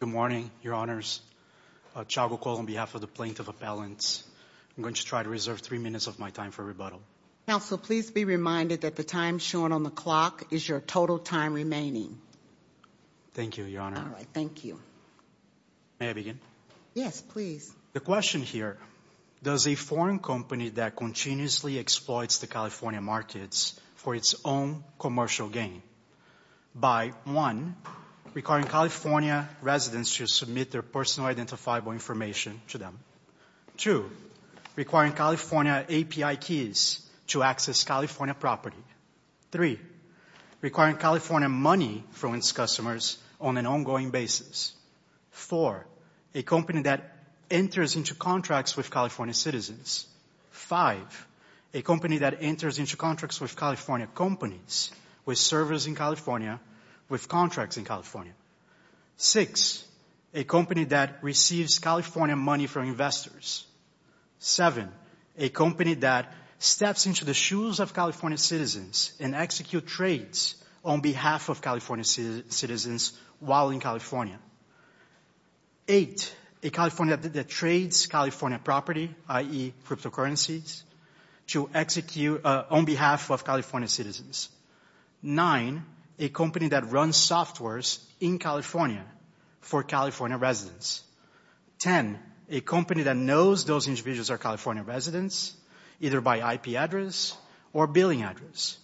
Good morning, Your Honors. Chago Cole on behalf of the Plaintiff Appellants. I'm going to try to reserve three minutes of my time for rebuttal. Counsel, please be reminded that the time shown on the clock is your total time remaining. Thank you, Your Honor. All right, thank you. May I begin? Yes, please. The question here, does a foreign company that continuously exploits the California markets for its own commercial gain by, one, requiring California residents to submit their personal identifiable information to them, two, requiring California API keys to access California property, three, requiring California money from its customers on an ongoing basis, four, a company that enters into contracts with California citizens, five, a company that enters into contracts with California companies, with servers in California, with contracts in California, six, a company that receives California money from investors, seven, a company that steps into the shoes of California citizens and executes trades on behalf of California citizens while in California, eight, a California that trades California property, i.e., cryptocurrencies, to execute on behalf of California citizens, nine, a company that runs softwares in California for California residents, ten, a company that knows those individuals are California residents, either by IP address or billing address,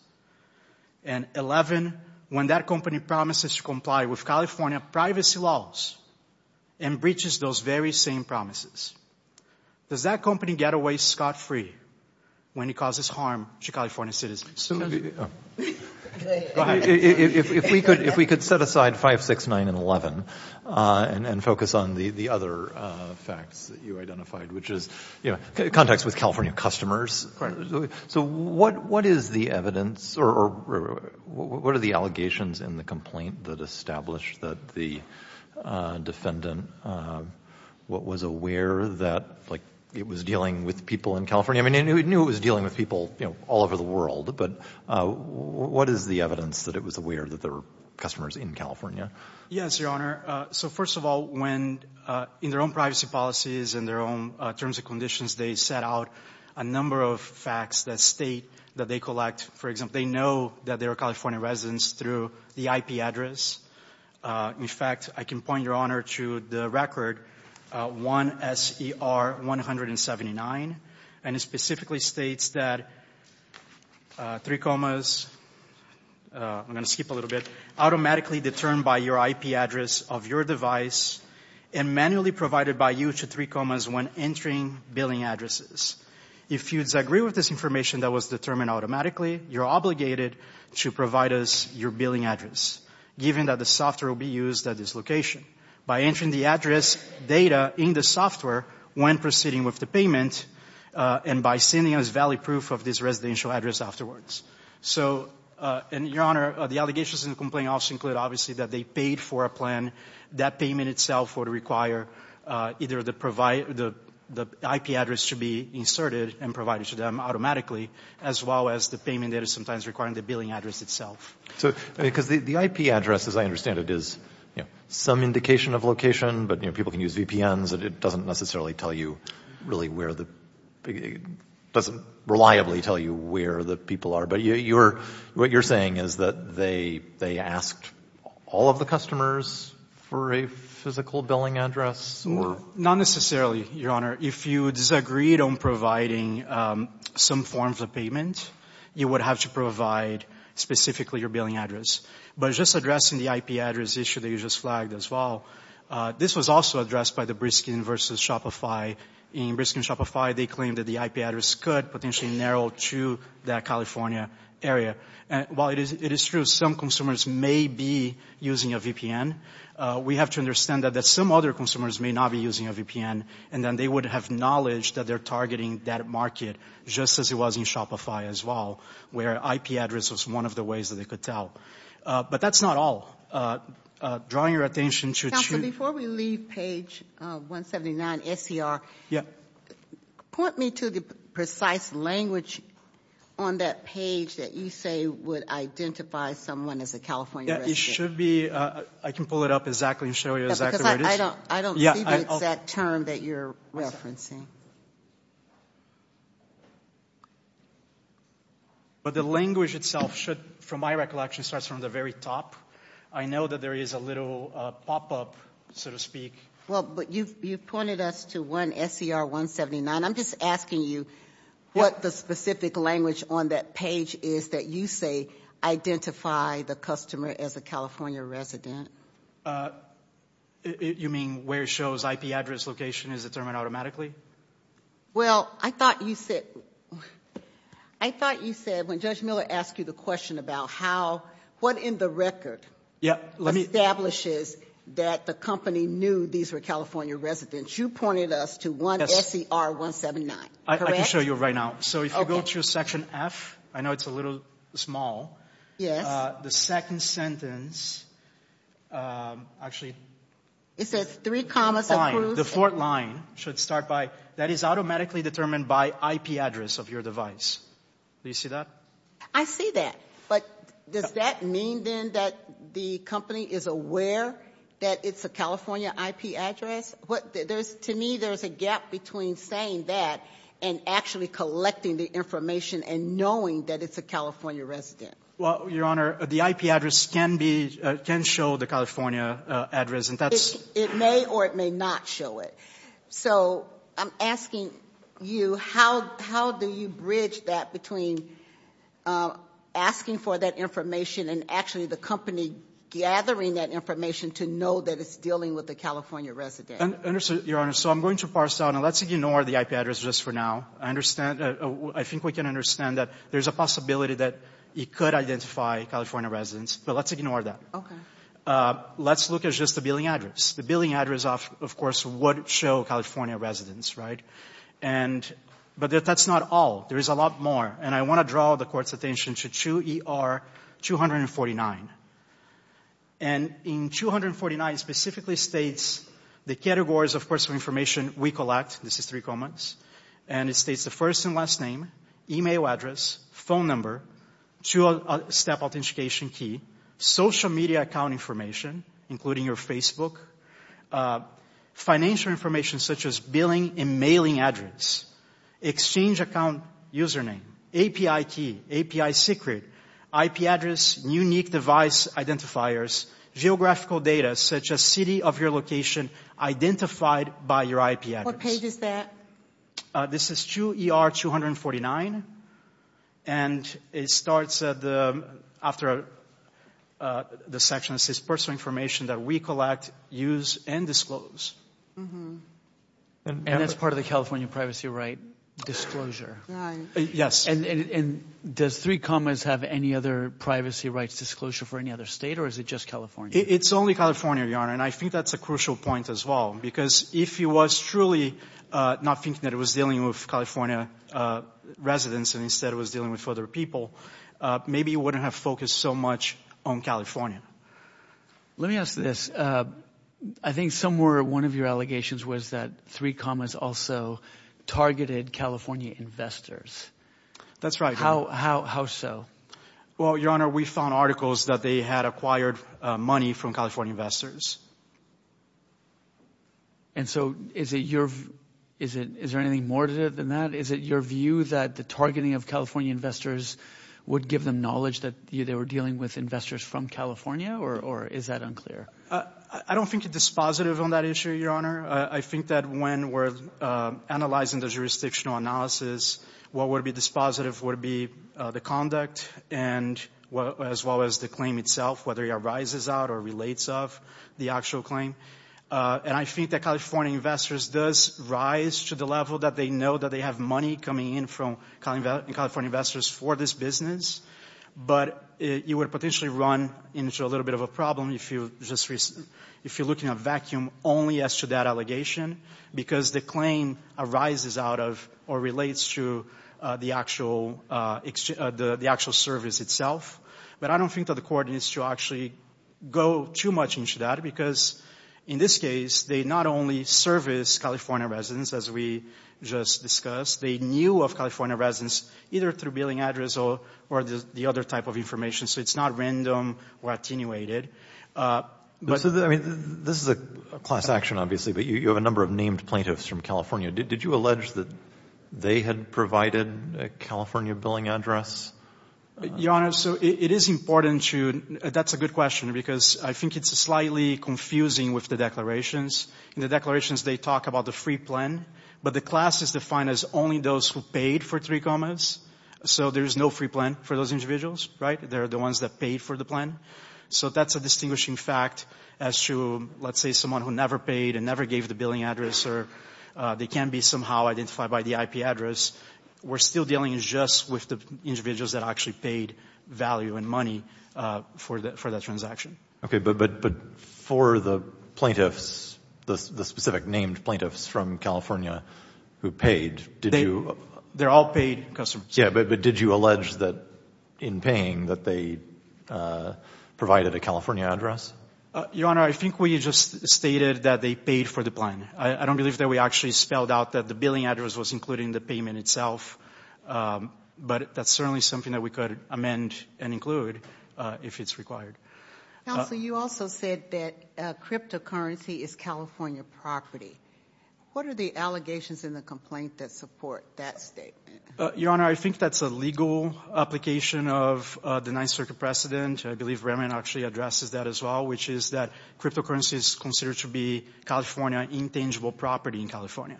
and 11, when that company promises to comply with California privacy laws and breaches those very same promises. Does that company get away scot-free when it causes harm to California citizens? If we could set aside 5, 6, 9, and 11 and focus on the other facts that you identified, which is context with California customers. Correct. So what is the evidence or what are the allegations in the complaint that established that the defendant was aware that it was dealing with people in California? I mean, they knew it was dealing with people all over the world, but what is the evidence that it was aware that there were customers in California? Yes, Your Honor. So first of all, when in their own privacy policies and their own terms and conditions, they set out a number of facts that state that they collect, for example, they know that there are California residents through the IP address. In fact, I can point, Your Honor, to the record 1SER179, and it specifically states that three commas, I'm going to skip a little bit, automatically determined by your IP address of your device and manually provided by you to three commas when entering billing addresses. If you disagree with this information that was determined automatically, you're obligated to provide us your billing address, given that the software will be used at this location, by entering the address data in the software when proceeding with the payment and by sending us valid proof of this residential address afterwards. So, Your Honor, the allegations in the complaint also include, obviously, that they paid for a plan. That payment itself would require either the IP address to be inserted and provided to them automatically, as well as the payment data sometimes requiring the billing address itself. Because the IP address, as I understand it, is some indication of location, but people can use VPNs, and it doesn't necessarily tell you really where the – What you're saying is that they asked all of the customers for a physical billing address? Not necessarily, Your Honor. If you disagreed on providing some forms of payment, you would have to provide specifically your billing address. But just addressing the IP address issue that you just flagged as well, this was also addressed by the Briskin versus Shopify. In Briskin and Shopify, they claimed that the IP address could potentially narrow to that California area. While it is true some consumers may be using a VPN, we have to understand that some other consumers may not be using a VPN, and then they would have knowledge that they're targeting that market, just as it was in Shopify as well, where IP address was one of the ways that they could tell. But that's not all. Drawing your attention to – Before we leave page 179 SCR, point me to the precise language on that page that you say would identify someone as a California resident. Yeah, it should be – I can pull it up exactly and show you exactly where it is. Because I don't see the exact term that you're referencing. But the language itself should, from my recollection, starts from the very top. I know that there is a little pop-up, so to speak. Well, but you pointed us to one SCR 179. I'm just asking you what the specific language on that page is that you say identify the customer as a California resident. You mean where it shows IP address location is determined automatically? Well, I thought you said – I thought you said when Judge Miller asked you the question about how – what in the record establishes that the company knew these were California residents. You pointed us to one SCR 179, correct? I can show you right now. So if you go to section F, I know it's a little small. Yes. The second sentence actually – It says three commas. The fourth line should start by that is automatically determined by IP address of your device. Do you see that? I see that. But does that mean, then, that the company is aware that it's a California IP address? To me, there's a gap between saying that and actually collecting the information and knowing that it's a California resident. Well, Your Honor, the IP address can be – can show the California address. It may or it may not show it. So I'm asking you, how do you bridge that between asking for that information and actually the company gathering that information to know that it's dealing with a California resident? Your Honor, so I'm going to parse out – and let's ignore the IP address just for now. I think we can understand that there's a possibility that it could identify California residents, but let's ignore that. Okay. Let's look at just the billing address. The billing address, of course, would show California residents, right? And – but that's not all. There is a lot more, and I want to draw the Court's attention to 2ER249. And in 249, it specifically states the categories, of course, of information we collect. This is three commas. And it states the first and last name, e-mail address, phone number, two-step authentication key, social media account information, including your Facebook, financial information, such as billing and mailing address, exchange account username, API key, API secret, IP address, unique device identifiers, geographical data, such as city of your location identified by your IP address. What page is that? This is 2ER249, and it starts at the – after the section that says personal information that we collect, use, and disclose. And that's part of the California privacy right disclosure. Yes. And does three commas have any other privacy rights disclosure for any other state, or is it just California? It's only California, Your Honor, and I think that's a crucial point as well. Because if you was truly not thinking that it was dealing with California residents and instead it was dealing with other people, maybe you wouldn't have focused so much on California. Let me ask this. I think somewhere one of your allegations was that three commas also targeted California investors. That's right. How so? Well, Your Honor, we found articles that they had acquired money from California investors. And so is it your – is there anything more to it than that? Is it your view that the targeting of California investors would give them knowledge that they were dealing with investors from California, or is that unclear? I don't think it's dispositive on that issue, Your Honor. I think that when we're analyzing the jurisdictional analysis, what would be dispositive would be the conduct as well as the claim itself, whether it arises out or relates of the actual claim. And I think that California investors does rise to the level that they know that they have money coming in from California investors for this business. But it would potentially run into a little bit of a problem if you're looking at vacuum only as to that allegation because the claim arises out of or relates to the actual service itself. But I don't think that the court needs to actually go too much into that because in this case, they not only service California residents, as we just discussed, they knew of California residents either through billing address or the other type of information. So it's not random or attenuated. I mean, this is a class action, obviously, but you have a number of named plaintiffs from California. Did you allege that they had provided a California billing address? Your Honor, so it is important to – that's a good question because I think it's slightly confusing with the declarations. In the declarations, they talk about the free plan, but the class is defined as only those who paid for three commas. So there's no free plan for those individuals, right? They're the ones that paid for the plan. So that's a distinguishing fact as to, let's say, someone who never paid and never gave the billing address or they can be somehow identified by the IP address. We're still dealing just with the individuals that actually paid value and money for that transaction. Okay, but for the plaintiffs, the specific named plaintiffs from California who paid, did you – They're all paid customers. Yeah, but did you allege that in paying that they provided a California address? Your Honor, I think we just stated that they paid for the plan. I don't believe that we actually spelled out that the billing address was included in the payment itself, but that's certainly something that we could amend and include if it's required. Counsel, you also said that cryptocurrency is California property. What are the allegations in the complaint that support that statement? Your Honor, I think that's a legal application of the Ninth Circuit precedent. I believe Raymond actually addresses that as well, which is that cryptocurrency is considered to be California intangible property in California.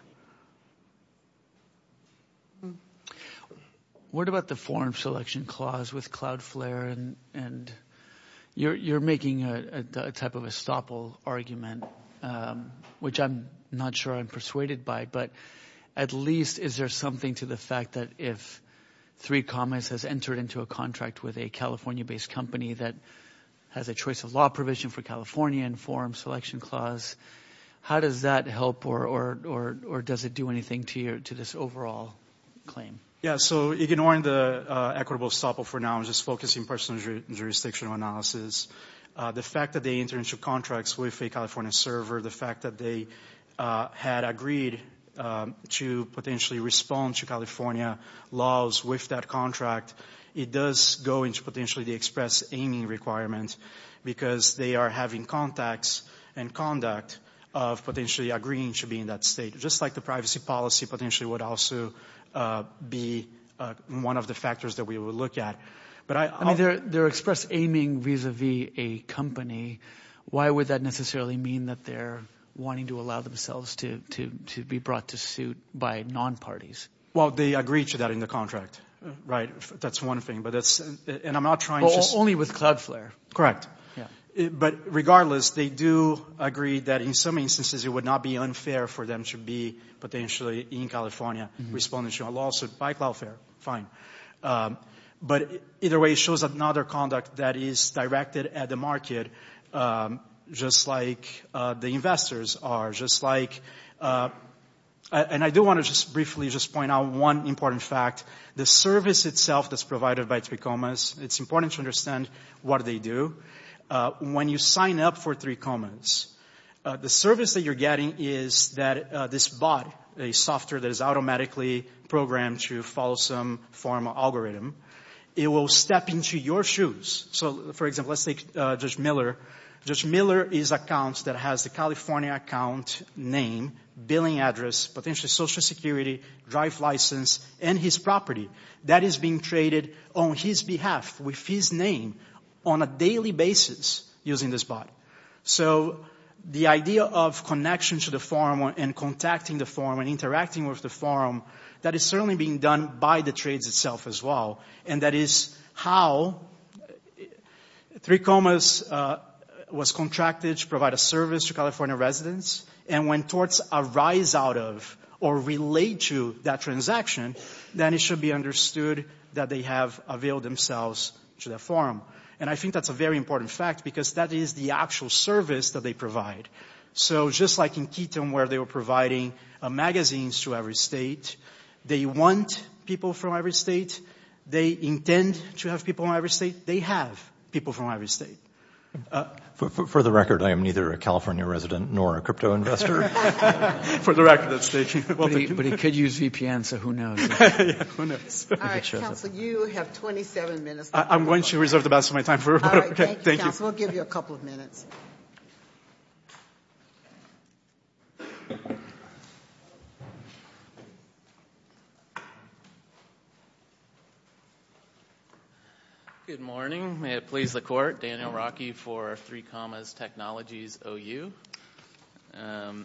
What about the foreign selection clause with Cloudflare? You're making a type of estoppel argument, which I'm not sure I'm persuaded by, but at least is there something to the fact that if 3Commerce has entered into a contract with a California-based company that has a choice of law provision for California and foreign selection clause, how does that help or does it do anything to this overall claim? Yeah, so ignoring the equitable estoppel for now, I'm just focusing personal jurisdictional analysis. The fact that they entered into contracts with a California server, the fact that they had agreed to potentially respond to California laws with that contract, it does go into potentially the express aiming requirements because they are having contacts and conduct of potentially agreeing to be in that state. Just like the privacy policy potentially would also be one of the factors that we would look at. I mean they're express aiming vis-a-vis a company. Why would that necessarily mean that they're wanting to allow themselves to be brought to suit by non-parties? Well, they agreed to that in the contract, right? That's one thing, but that's – and I'm not trying to – Only with CloudFlare. Correct. Yeah. But regardless, they do agree that in some instances it would not be unfair for them to be potentially in California responding to a lawsuit by CloudFlare. Fine. But either way, it shows another conduct that is directed at the market just like the investors are, just like – And I do want to just briefly just point out one important fact. The service itself that's provided by 3Comas, it's important to understand what they do. When you sign up for 3Comas, the service that you're getting is that this bot, a software that is automatically programmed to follow some form of algorithm, it will step into your shoes. So, for example, let's take Judge Miller. Judge Miller is an account that has the California account name, billing address, potentially Social Security, drive license, and his property. That is being traded on his behalf with his name on a daily basis using this bot. So the idea of connection to the forum and contacting the forum and interacting with the forum, that is certainly being done by the trades itself as well. And that is how 3Comas was contracted to provide a service to California residents. And when torts arise out of or relate to that transaction, then it should be understood that they have availed themselves to the forum. And I think that's a very important fact because that is the actual service that they provide. So just like in Keaton where they were providing magazines to every state, they want people from every state, they intend to have people from every state, they have people from every state. For the record, I am neither a California resident nor a crypto investor. For the record, that's the issue. But he could use VPN, so who knows? Yeah, who knows? All right, counsel, you have 27 minutes. I'm going to reserve the rest of my time for a moment. All right, thank you, counsel. We'll give you a couple of minutes. Good morning. May it please the court. Daniel Rockey for 3Comas Technologies OU. So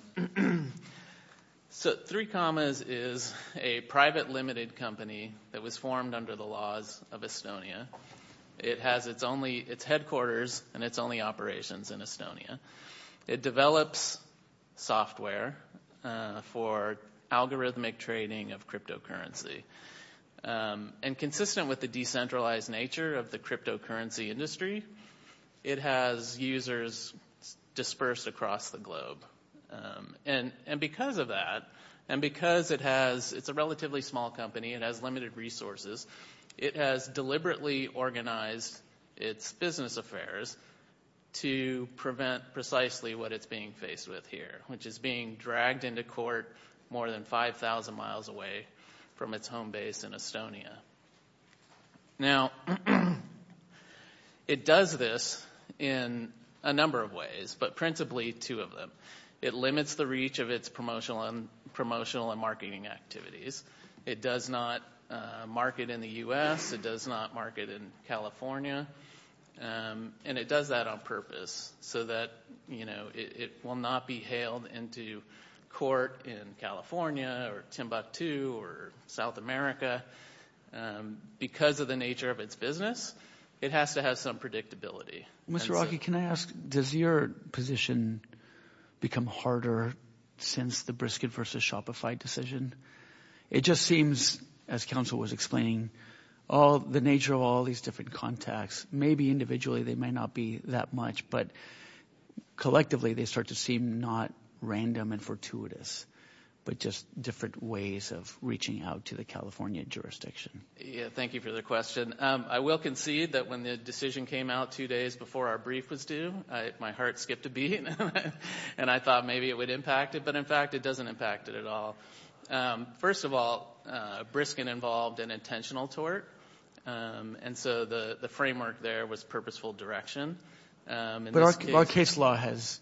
3Comas is a private limited company that was formed under the laws of Estonia. It has its headquarters and its only operations in Estonia. It develops software for algorithmic trading of cryptocurrency. And consistent with the decentralized nature of the cryptocurrency industry, it has users dispersed across the globe. And because of that, and because it's a relatively small company, it has limited resources, it has deliberately organized its business affairs to prevent precisely what it's being faced with here, which is being dragged into court more than 5,000 miles away from its home base in Estonia. Now, it does this in a number of ways, but principally two of them. It limits the reach of its promotional and marketing activities. It does not market in the U.S. It does not market in California. And it does that on purpose so that it will not be hailed into court in California or Timbuktu or South America. Because of the nature of its business, it has to have some predictability. Mr. Rocky, can I ask, does your position become harder since the Brisket versus Shopify decision? It just seems, as counsel was explaining, the nature of all these different contacts, maybe individually they may not be that much, but collectively they start to seem not random and fortuitous, but just different ways of reaching out to the California jurisdiction. Thank you for the question. I will concede that when the decision came out two days before our brief was due, my heart skipped a beat, and I thought maybe it would impact it, but in fact it doesn't impact it at all. First of all, Brisket involved an intentional tort, and so the framework there was purposeful direction. But our case law has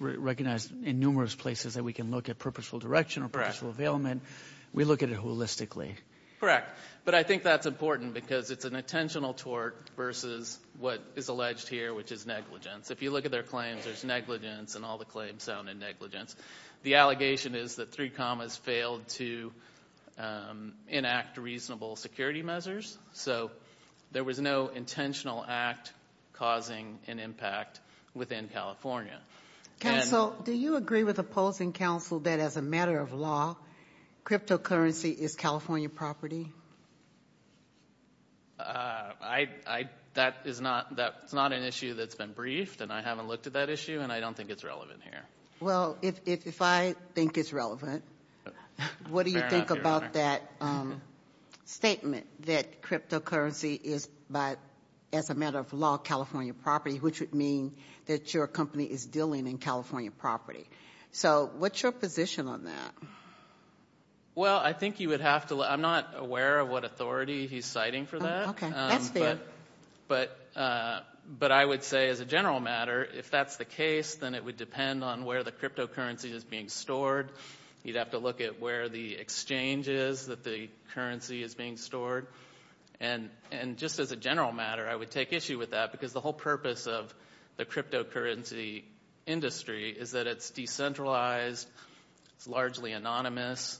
recognized in numerous places that we can look at purposeful direction or purposeful availment. We look at it holistically. Correct. But I think that's important because it's an intentional tort versus what is alleged here, which is negligence. If you look at their claims, there's negligence, and all the claims sound in negligence. The allegation is that three commas failed to enact reasonable security measures, so there was no intentional act causing an impact within California. Counsel, do you agree with opposing counsel that as a matter of law, cryptocurrency is California property? That is not an issue that's been briefed, and I haven't looked at that issue, and I don't think it's relevant here. Well, if I think it's relevant, what do you think about that statement that cryptocurrency is, but as a matter of law, California property, which would mean that your company is dealing in California property? So what's your position on that? Well, I think you would have to look. I'm not aware of what authority he's citing for that. Okay, that's fair. But I would say as a general matter, if that's the case, then it would depend on where the cryptocurrency is being stored. You'd have to look at where the exchange is that the currency is being stored. And just as a general matter, I would take issue with that, because the whole purpose of the cryptocurrency industry is that it's decentralized, it's largely anonymous.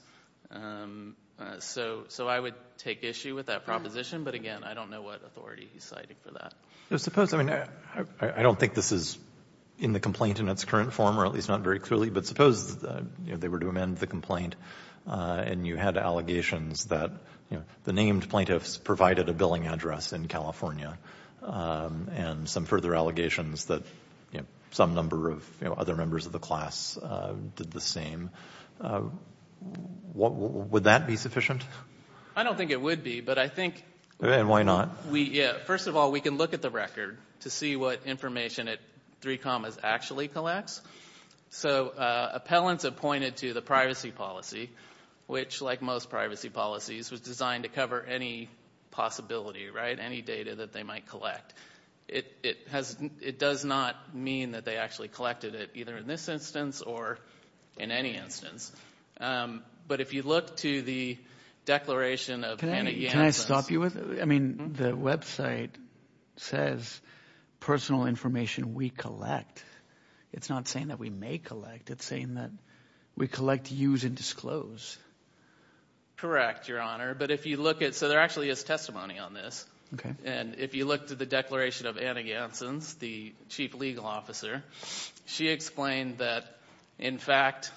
So I would take issue with that proposition, but again, I don't know what authority he's citing for that. I don't think this is in the complaint in its current form, or at least not very clearly, but suppose they were to amend the complaint, and you had allegations that the named plaintiffs provided a billing address in California, and some further allegations that some number of other members of the class did the same. Would that be sufficient? I don't think it would be, but I think... And why not? First of all, we can look at the record to see what information it actually collects. So appellants appointed to the privacy policy, which like most privacy policies, was designed to cover any possibility, any data that they might collect. It does not mean that they actually collected it, either in this instance or in any instance. But if you look to the declaration of Hannah Yancey... Can I stop you with... I mean, the website says personal information we collect. It's not saying that we may collect. It's saying that we collect, use, and disclose. Correct, Your Honor. But if you look at... So there actually is testimony on this. Okay. And if you look to the declaration of Anna Yancey, the chief legal officer, she explained that, in fact,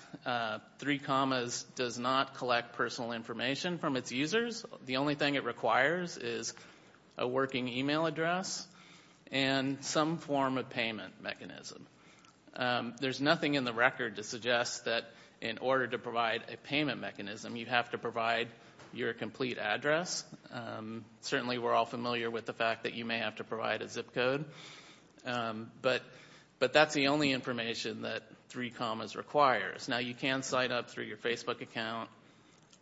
three commas does not collect personal information from its users. The only thing it requires is a working email address and some form of payment mechanism. There's nothing in the record to suggest that in order to provide a payment mechanism, you have to provide your complete address. Certainly we're all familiar with the fact that you may have to provide a zip code. But that's the only information that three commas requires. Now, you can sign up through your Facebook account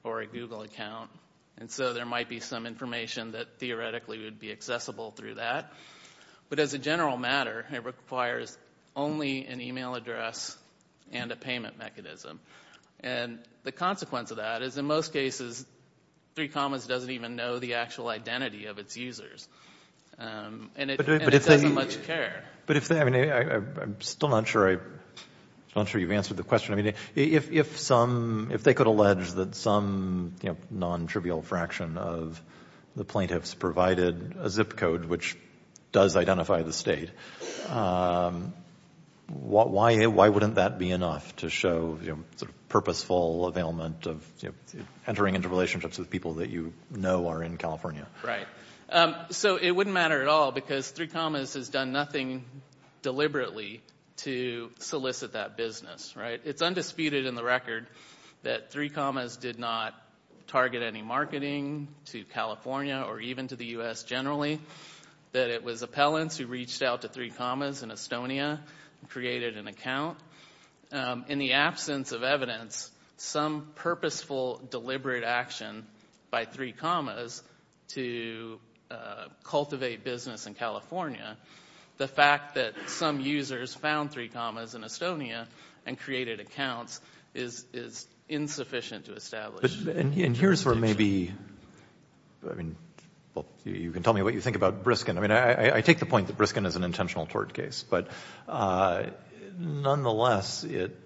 or a Google account. And so there might be some information that theoretically would be accessible through that. But as a general matter, it requires only an email address and a payment mechanism. And the consequence of that is, in most cases, three commas doesn't even know the actual identity of its users. And it doesn't much care. I'm still not sure you've answered the question. If they could allege that some non-trivial fraction of the plaintiffs provided a zip code which does identify the state, why wouldn't that be enough to show purposeful availment of entering into relationships with people that you know are in California? Right. So it wouldn't matter at all because three commas has done nothing deliberately to solicit that business. It's undisputed in the record that three commas did not target any marketing to California or even to the U.S. generally. That it was appellants who reached out to three commas in Estonia and created an account. In the absence of evidence, some purposeful deliberate action by three commas to cultivate business in California, the fact that some users found three commas in Estonia and created accounts is insufficient to establish. And here's where maybe, I mean, you can tell me what you think about Briskin. I mean, I take the point that Briskin is an intentional tort case. But nonetheless, it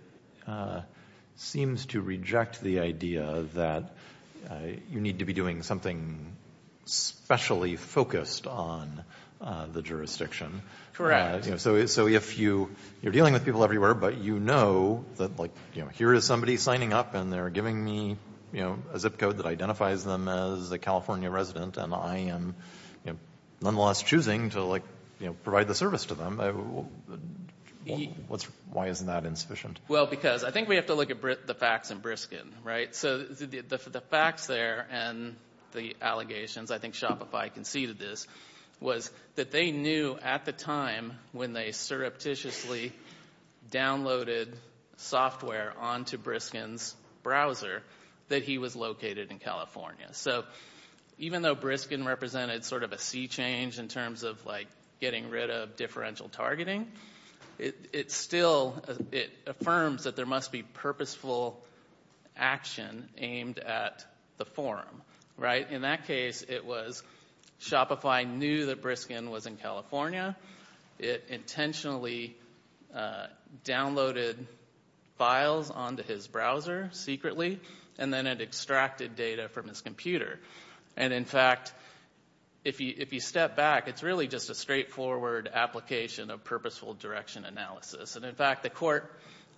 seems to reject the idea that you need to be doing something specially focused on the jurisdiction. So if you're dealing with people everywhere but you know that here is somebody signing up and they're giving me a zip code that identifies them as a California resident and I am nonetheless choosing to provide the service to them, why isn't that insufficient? Well, because I think we have to look at the facts in Briskin, right? So the facts there and the allegations, I think Shopify conceded this, was that they knew at the time when they surreptitiously downloaded software onto Briskin's browser that he was located in California. So even though Briskin represented sort of a sea change in terms of like getting rid of differential targeting, it still, it affirms that there must be purposeful action aimed at the forum, right? In that case, it was Shopify knew that Briskin was in California. It intentionally downloaded files onto his browser secretly and then it extracted data from his computer. And in fact, if you step back, it's really just a straightforward application of purposeful direction analysis. And in fact, the court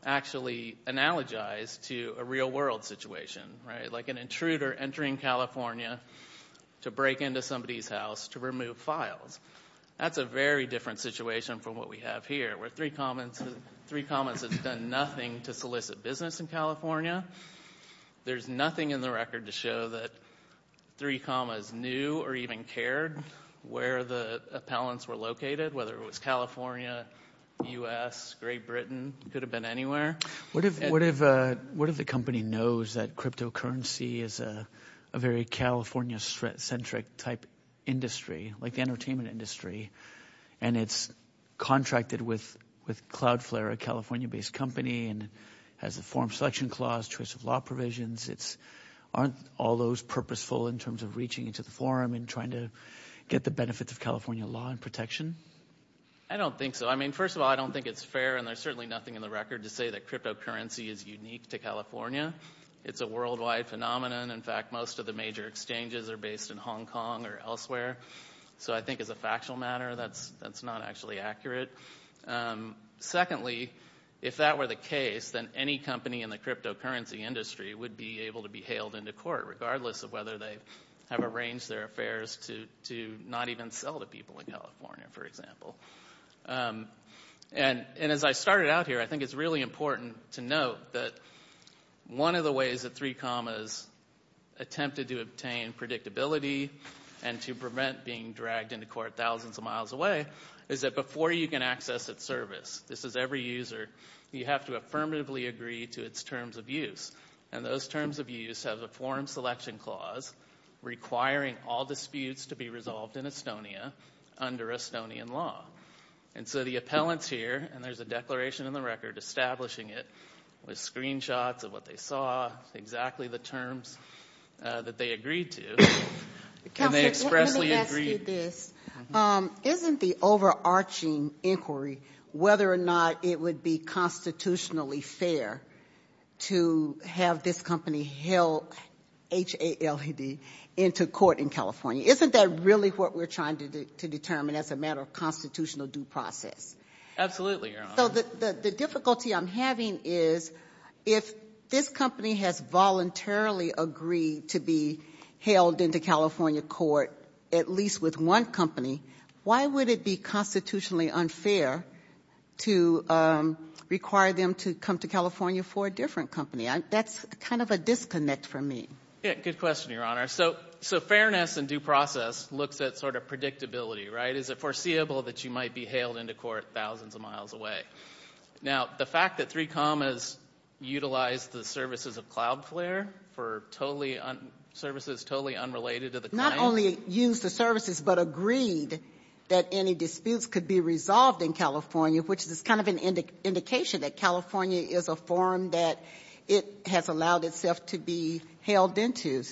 actually analogized to a real world situation, right? Like an intruder entering California to break into somebody's house to remove files. That's a very different situation from what we have here where 3 Commas has done nothing to solicit business in California. There's nothing in the record to show that 3 Commas knew or even cared where the appellants were located, whether it was California, U.S., Great Britain, could have been anywhere. What if the company knows that cryptocurrency is a very California-centric type industry? Like the entertainment industry. And it's contracted with CloudFlare, a California-based company, and has a forum selection clause, choice of law provisions. Aren't all those purposeful in terms of reaching into the forum and trying to get the benefits of California law and protection? I don't think so. I mean, first of all, I don't think it's fair. And there's certainly nothing in the record to say that cryptocurrency is unique to California. It's a worldwide phenomenon. In fact, most of the major exchanges are based in Hong Kong or elsewhere. So I think as a factual matter, that's not actually accurate. Secondly, if that were the case, then any company in the cryptocurrency industry would be able to be hailed into court, regardless of whether they have arranged their affairs to not even sell to people in California, for example. And as I started out here, I think it's really important to note that one of the ways that 3 Commas attempted to obtain predictability and to prevent being dragged into court thousands of miles away is that before you can access its service, this is every user, you have to affirmatively agree to its terms of use. And those terms of use have a forum selection clause requiring all disputes to be resolved in Estonia under Estonian law. And so the appellants here, and there's a declaration in the record establishing it with screenshots of what they saw, exactly the terms that they agreed to, and they expressly agreed. Isn't the overarching inquiry whether or not it would be constitutionally fair to have this company held, H-A-L-E-D, into court in California? Isn't that really what we're trying to determine as a matter of constitutional due process? Absolutely, Your Honor. So the difficulty I'm having is if this company has voluntarily agreed to be held into California court, at least with one company, why would it be constitutionally unfair to require them to come to California for a different company? That's kind of a disconnect for me. Yeah, good question, Your Honor. So fairness and due process looks at sort of predictability, right? Is it foreseeable that you might be hailed into court thousands of miles away? Now, the fact that 3Com has utilized the services of Cloudflare for services totally unrelated to the client. Not only used the services but agreed that any disputes could be resolved in California, which is kind of an indication that California is a forum that it has allowed itself to be hailed into.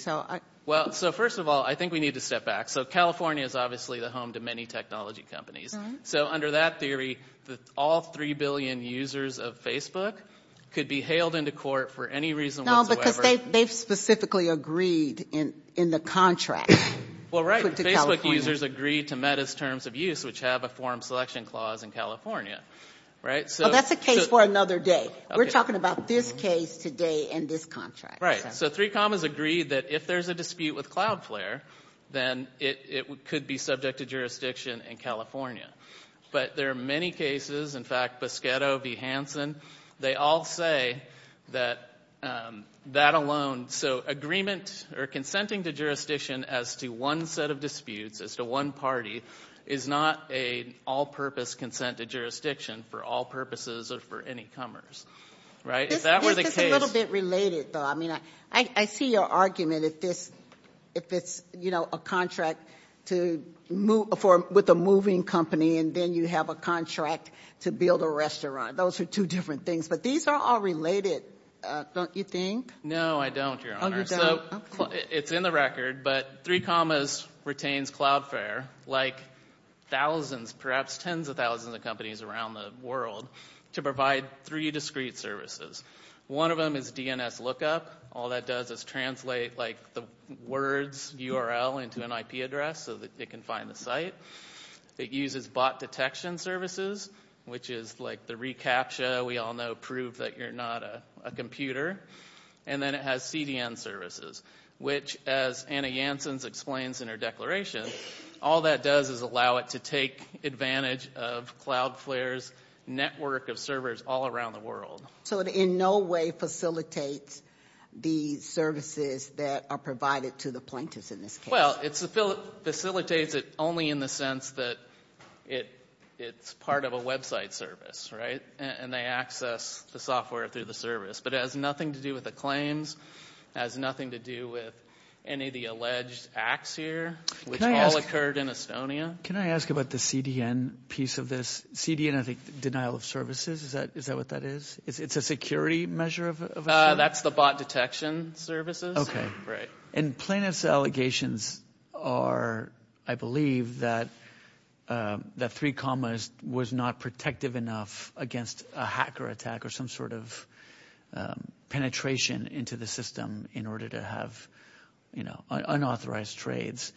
Well, so first of all, I think we need to step back. So California is obviously the home to many technology companies. So under that theory, all 3 billion users of Facebook could be hailed into court for any reason whatsoever. No, because they've specifically agreed in the contract. Well, right. Facebook users agreed to Meta's terms of use, which have a forum selection clause in California. Well, that's a case for another day. We're talking about this case today and this contract. Right. So 3Com has agreed that if there's a dispute with Cloudflare, then it could be subject to jurisdiction in California. But there are many cases, in fact, Boschetto v. Hansen, they all say that that alone, so agreement or consenting to jurisdiction as to one set of disputes, as to one party, is not an all-purpose consent to jurisdiction for all purposes or for any comers, right? This is a little bit related, though. I mean, I see your argument if it's, you know, a contract with a moving company and then you have a contract to build a restaurant. Those are two different things. But these are all related, don't you think? No, I don't, Your Honor. Oh, you don't? It's in the record. But 3Com retains Cloudflare like thousands, perhaps tens of thousands of companies around the world, to provide three discrete services. One of them is DNS lookup. All that does is translate, like, the words URL into an IP address so that it can find the site. It uses bot detection services, which is like the reCAPTCHA we all know proved that you're not a computer. And then it has CDN services, which, as Anna Janssen explains in her declaration, all that does is allow it to take advantage of Cloudflare's network of servers all around the world. So it in no way facilitates the services that are provided to the plaintiffs in this case? Well, it facilitates it only in the sense that it's part of a website service, right? And they access the software through the service. But it has nothing to do with the claims. It has nothing to do with any of the alleged acts here, which all occurred in Estonia. Can I ask about the CDN piece of this? CDN, I think denial of services. Is that what that is? It's a security measure of a service? That's the bot detection services. And plaintiffs' allegations are, I believe, that three commas was not protective enough against a hacker attack or some sort of penetration into the system in order to have unauthorized trades.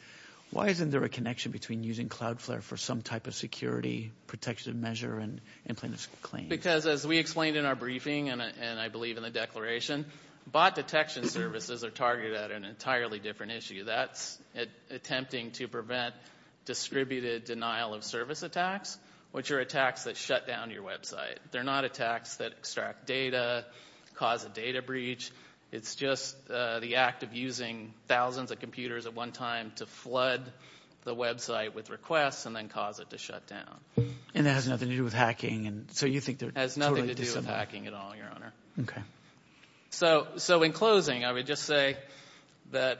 Why isn't there a connection between using Cloudflare for some type of security protection measure and plaintiffs' claim? Because, as we explained in our briefing, and I believe in the declaration, bot detection services are targeted at an entirely different issue. That's attempting to prevent distributed denial of service attacks, which are attacks that shut down your website. They're not attacks that extract data, cause a data breach. It's just the act of using thousands of computers at one time to flood the website with requests and then cause it to shut down. And it has nothing to do with hacking, and so you think they're totally dissimilar? It has nothing to do with hacking at all, Your Honor. Okay. So in closing, I would just say that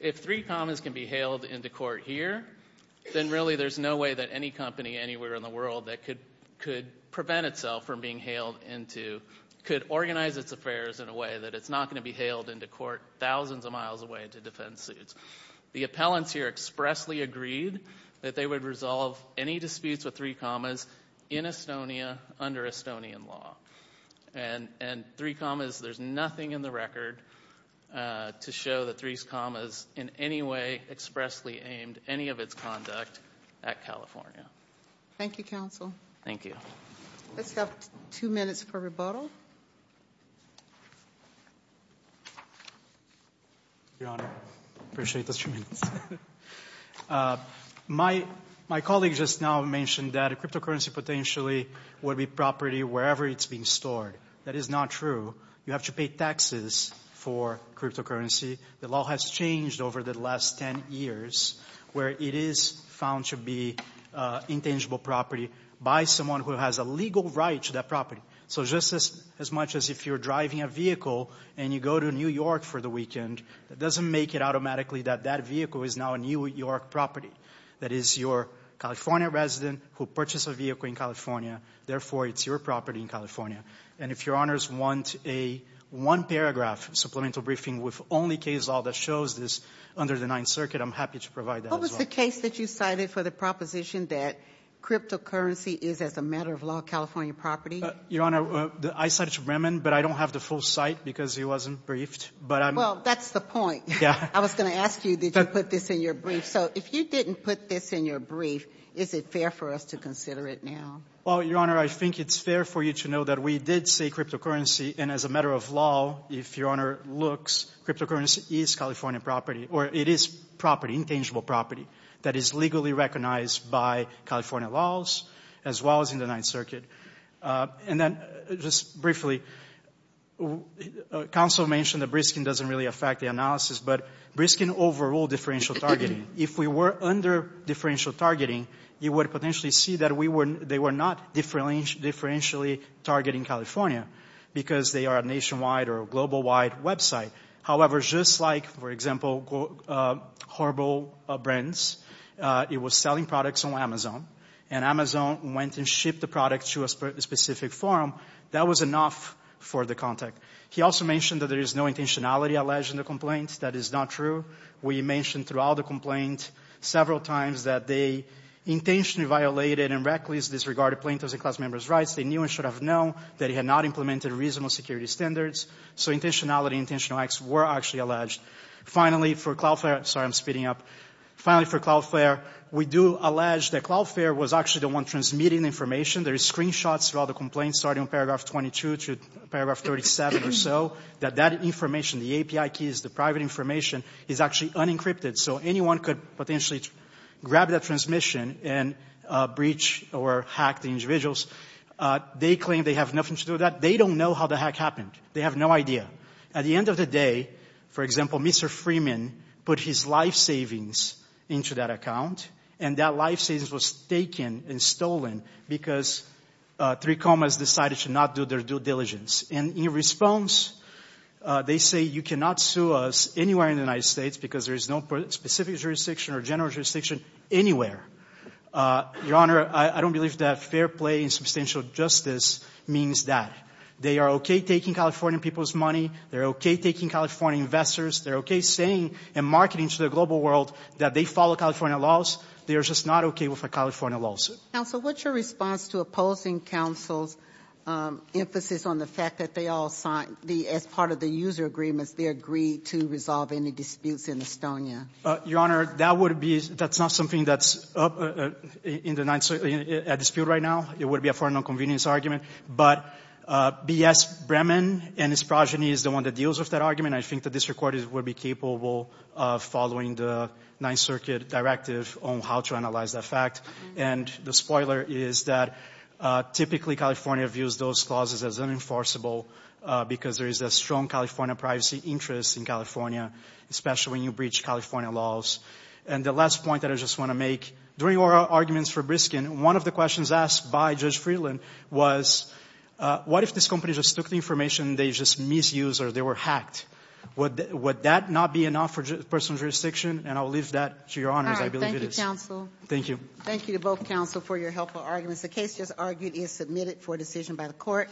if three commas can be hailed into court here, then really there's no way that any company anywhere in the world that could prevent itself from being hailed into could organize its affairs in a way that it's not going to be hailed into court thousands of miles away to defend suits. The appellants here expressly agreed that they would resolve any disputes with three commas in Estonia under Estonian law. And three commas, there's nothing in the record to show that three commas in any way expressly aimed any of its conduct at California. Thank you, counsel. Thank you. Let's have two minutes for rebuttal. Your Honor, I appreciate those two minutes. My colleague just now mentioned that a cryptocurrency potentially would be property wherever it's being stored. That is not true. You have to pay taxes for cryptocurrency. The law has changed over the last ten years where it is found to be intangible property by someone who has a legal right to that property. So just as much as if you're driving a vehicle and you go to New York for the weekend, that doesn't make it automatically that that vehicle is now a New York property. That is, you're a California resident who purchased a vehicle in California. Therefore, it's your property in California. And if Your Honors want a one-paragraph supplemental briefing with only case law that shows this under the Ninth Circuit, I'm happy to provide that as well. What was the case that you cited for the proposition that cryptocurrency is, as a matter of law, a California property? Your Honor, I cited Bremen, but I don't have the full cite because he wasn't briefed. Well, that's the point. I was going to ask you, did you put this in your brief? So if you didn't put this in your brief, is it fair for us to consider it now? Well, Your Honor, I think it's fair for you to know that we did say cryptocurrency. And as a matter of law, if Your Honor looks, cryptocurrency is California property, or it is property, intangible property, that is legally recognized by California laws as well as in the Ninth Circuit. And then just briefly, counsel mentioned that Briskin doesn't really affect the analysis, but Briskin overruled differential targeting. If we were under differential targeting, you would potentially see that they were not differentially targeting California because they are a nationwide or a global-wide website. However, just like, for example, Horbo Brands, it was selling products on Amazon. And Amazon went and shipped the product to a specific forum. That was enough for the contact. He also mentioned that there is no intentionality alleged in the complaint. That is not true. We mentioned throughout the complaint several times that they intentionally violated and recklessly disregarded plaintiffs' and class members' rights. They knew and should have known that he had not implemented reasonable security standards. So intentionality and intentional acts were actually alleged. Finally, for Cloudflare, we do allege that Cloudflare was actually the one transmitting the information. There are screenshots of all the complaints, starting on paragraph 22 to paragraph 37 or so, that that information, the API keys, the private information, is actually unencrypted. So anyone could potentially grab that transmission and breach or hack the individuals. They claim they have nothing to do with that. They don't know how the hack happened. They have no idea. At the end of the day, for example, Mr. Freeman put his life savings into that account, and that life savings was taken and stolen because 3Comas decided to not do their due diligence. And in response, they say you cannot sue us anywhere in the United States because there is no specific jurisdiction or general jurisdiction anywhere. Your Honor, I don't believe that fair play and substantial justice means that. They are okay taking California people's money. They're okay taking California investors. They're okay saying and marketing to the global world that they follow California laws. They are just not okay with the California laws. Counsel, what's your response to opposing counsel's emphasis on the fact that they all signed, as part of the user agreements, they agreed to resolve any disputes in Estonia? Your Honor, that would be, that's not something that's up in the dispute right now. It would be a foreign nonconvenience argument. But B.S. Bremen and his progeny is the one that deals with that argument. I think the district court would be capable of following the Ninth Circuit directive on how to analyze that fact. And the spoiler is that typically California views those clauses as unenforceable because there is a strong California privacy interest in California, especially when you breach California laws. And the last point that I just want to make, during our arguments for Briskin, one of the questions asked by Judge Freeland was, what if this company just took the information and they just misused or they were hacked? Would that not be enough for personal jurisdiction? And I'll leave that to your honors, I believe it is. All right. Thank you, counsel. Thank you. Thank you to both counsel for your helpful arguments. The case just argued is submitted for decision by the court.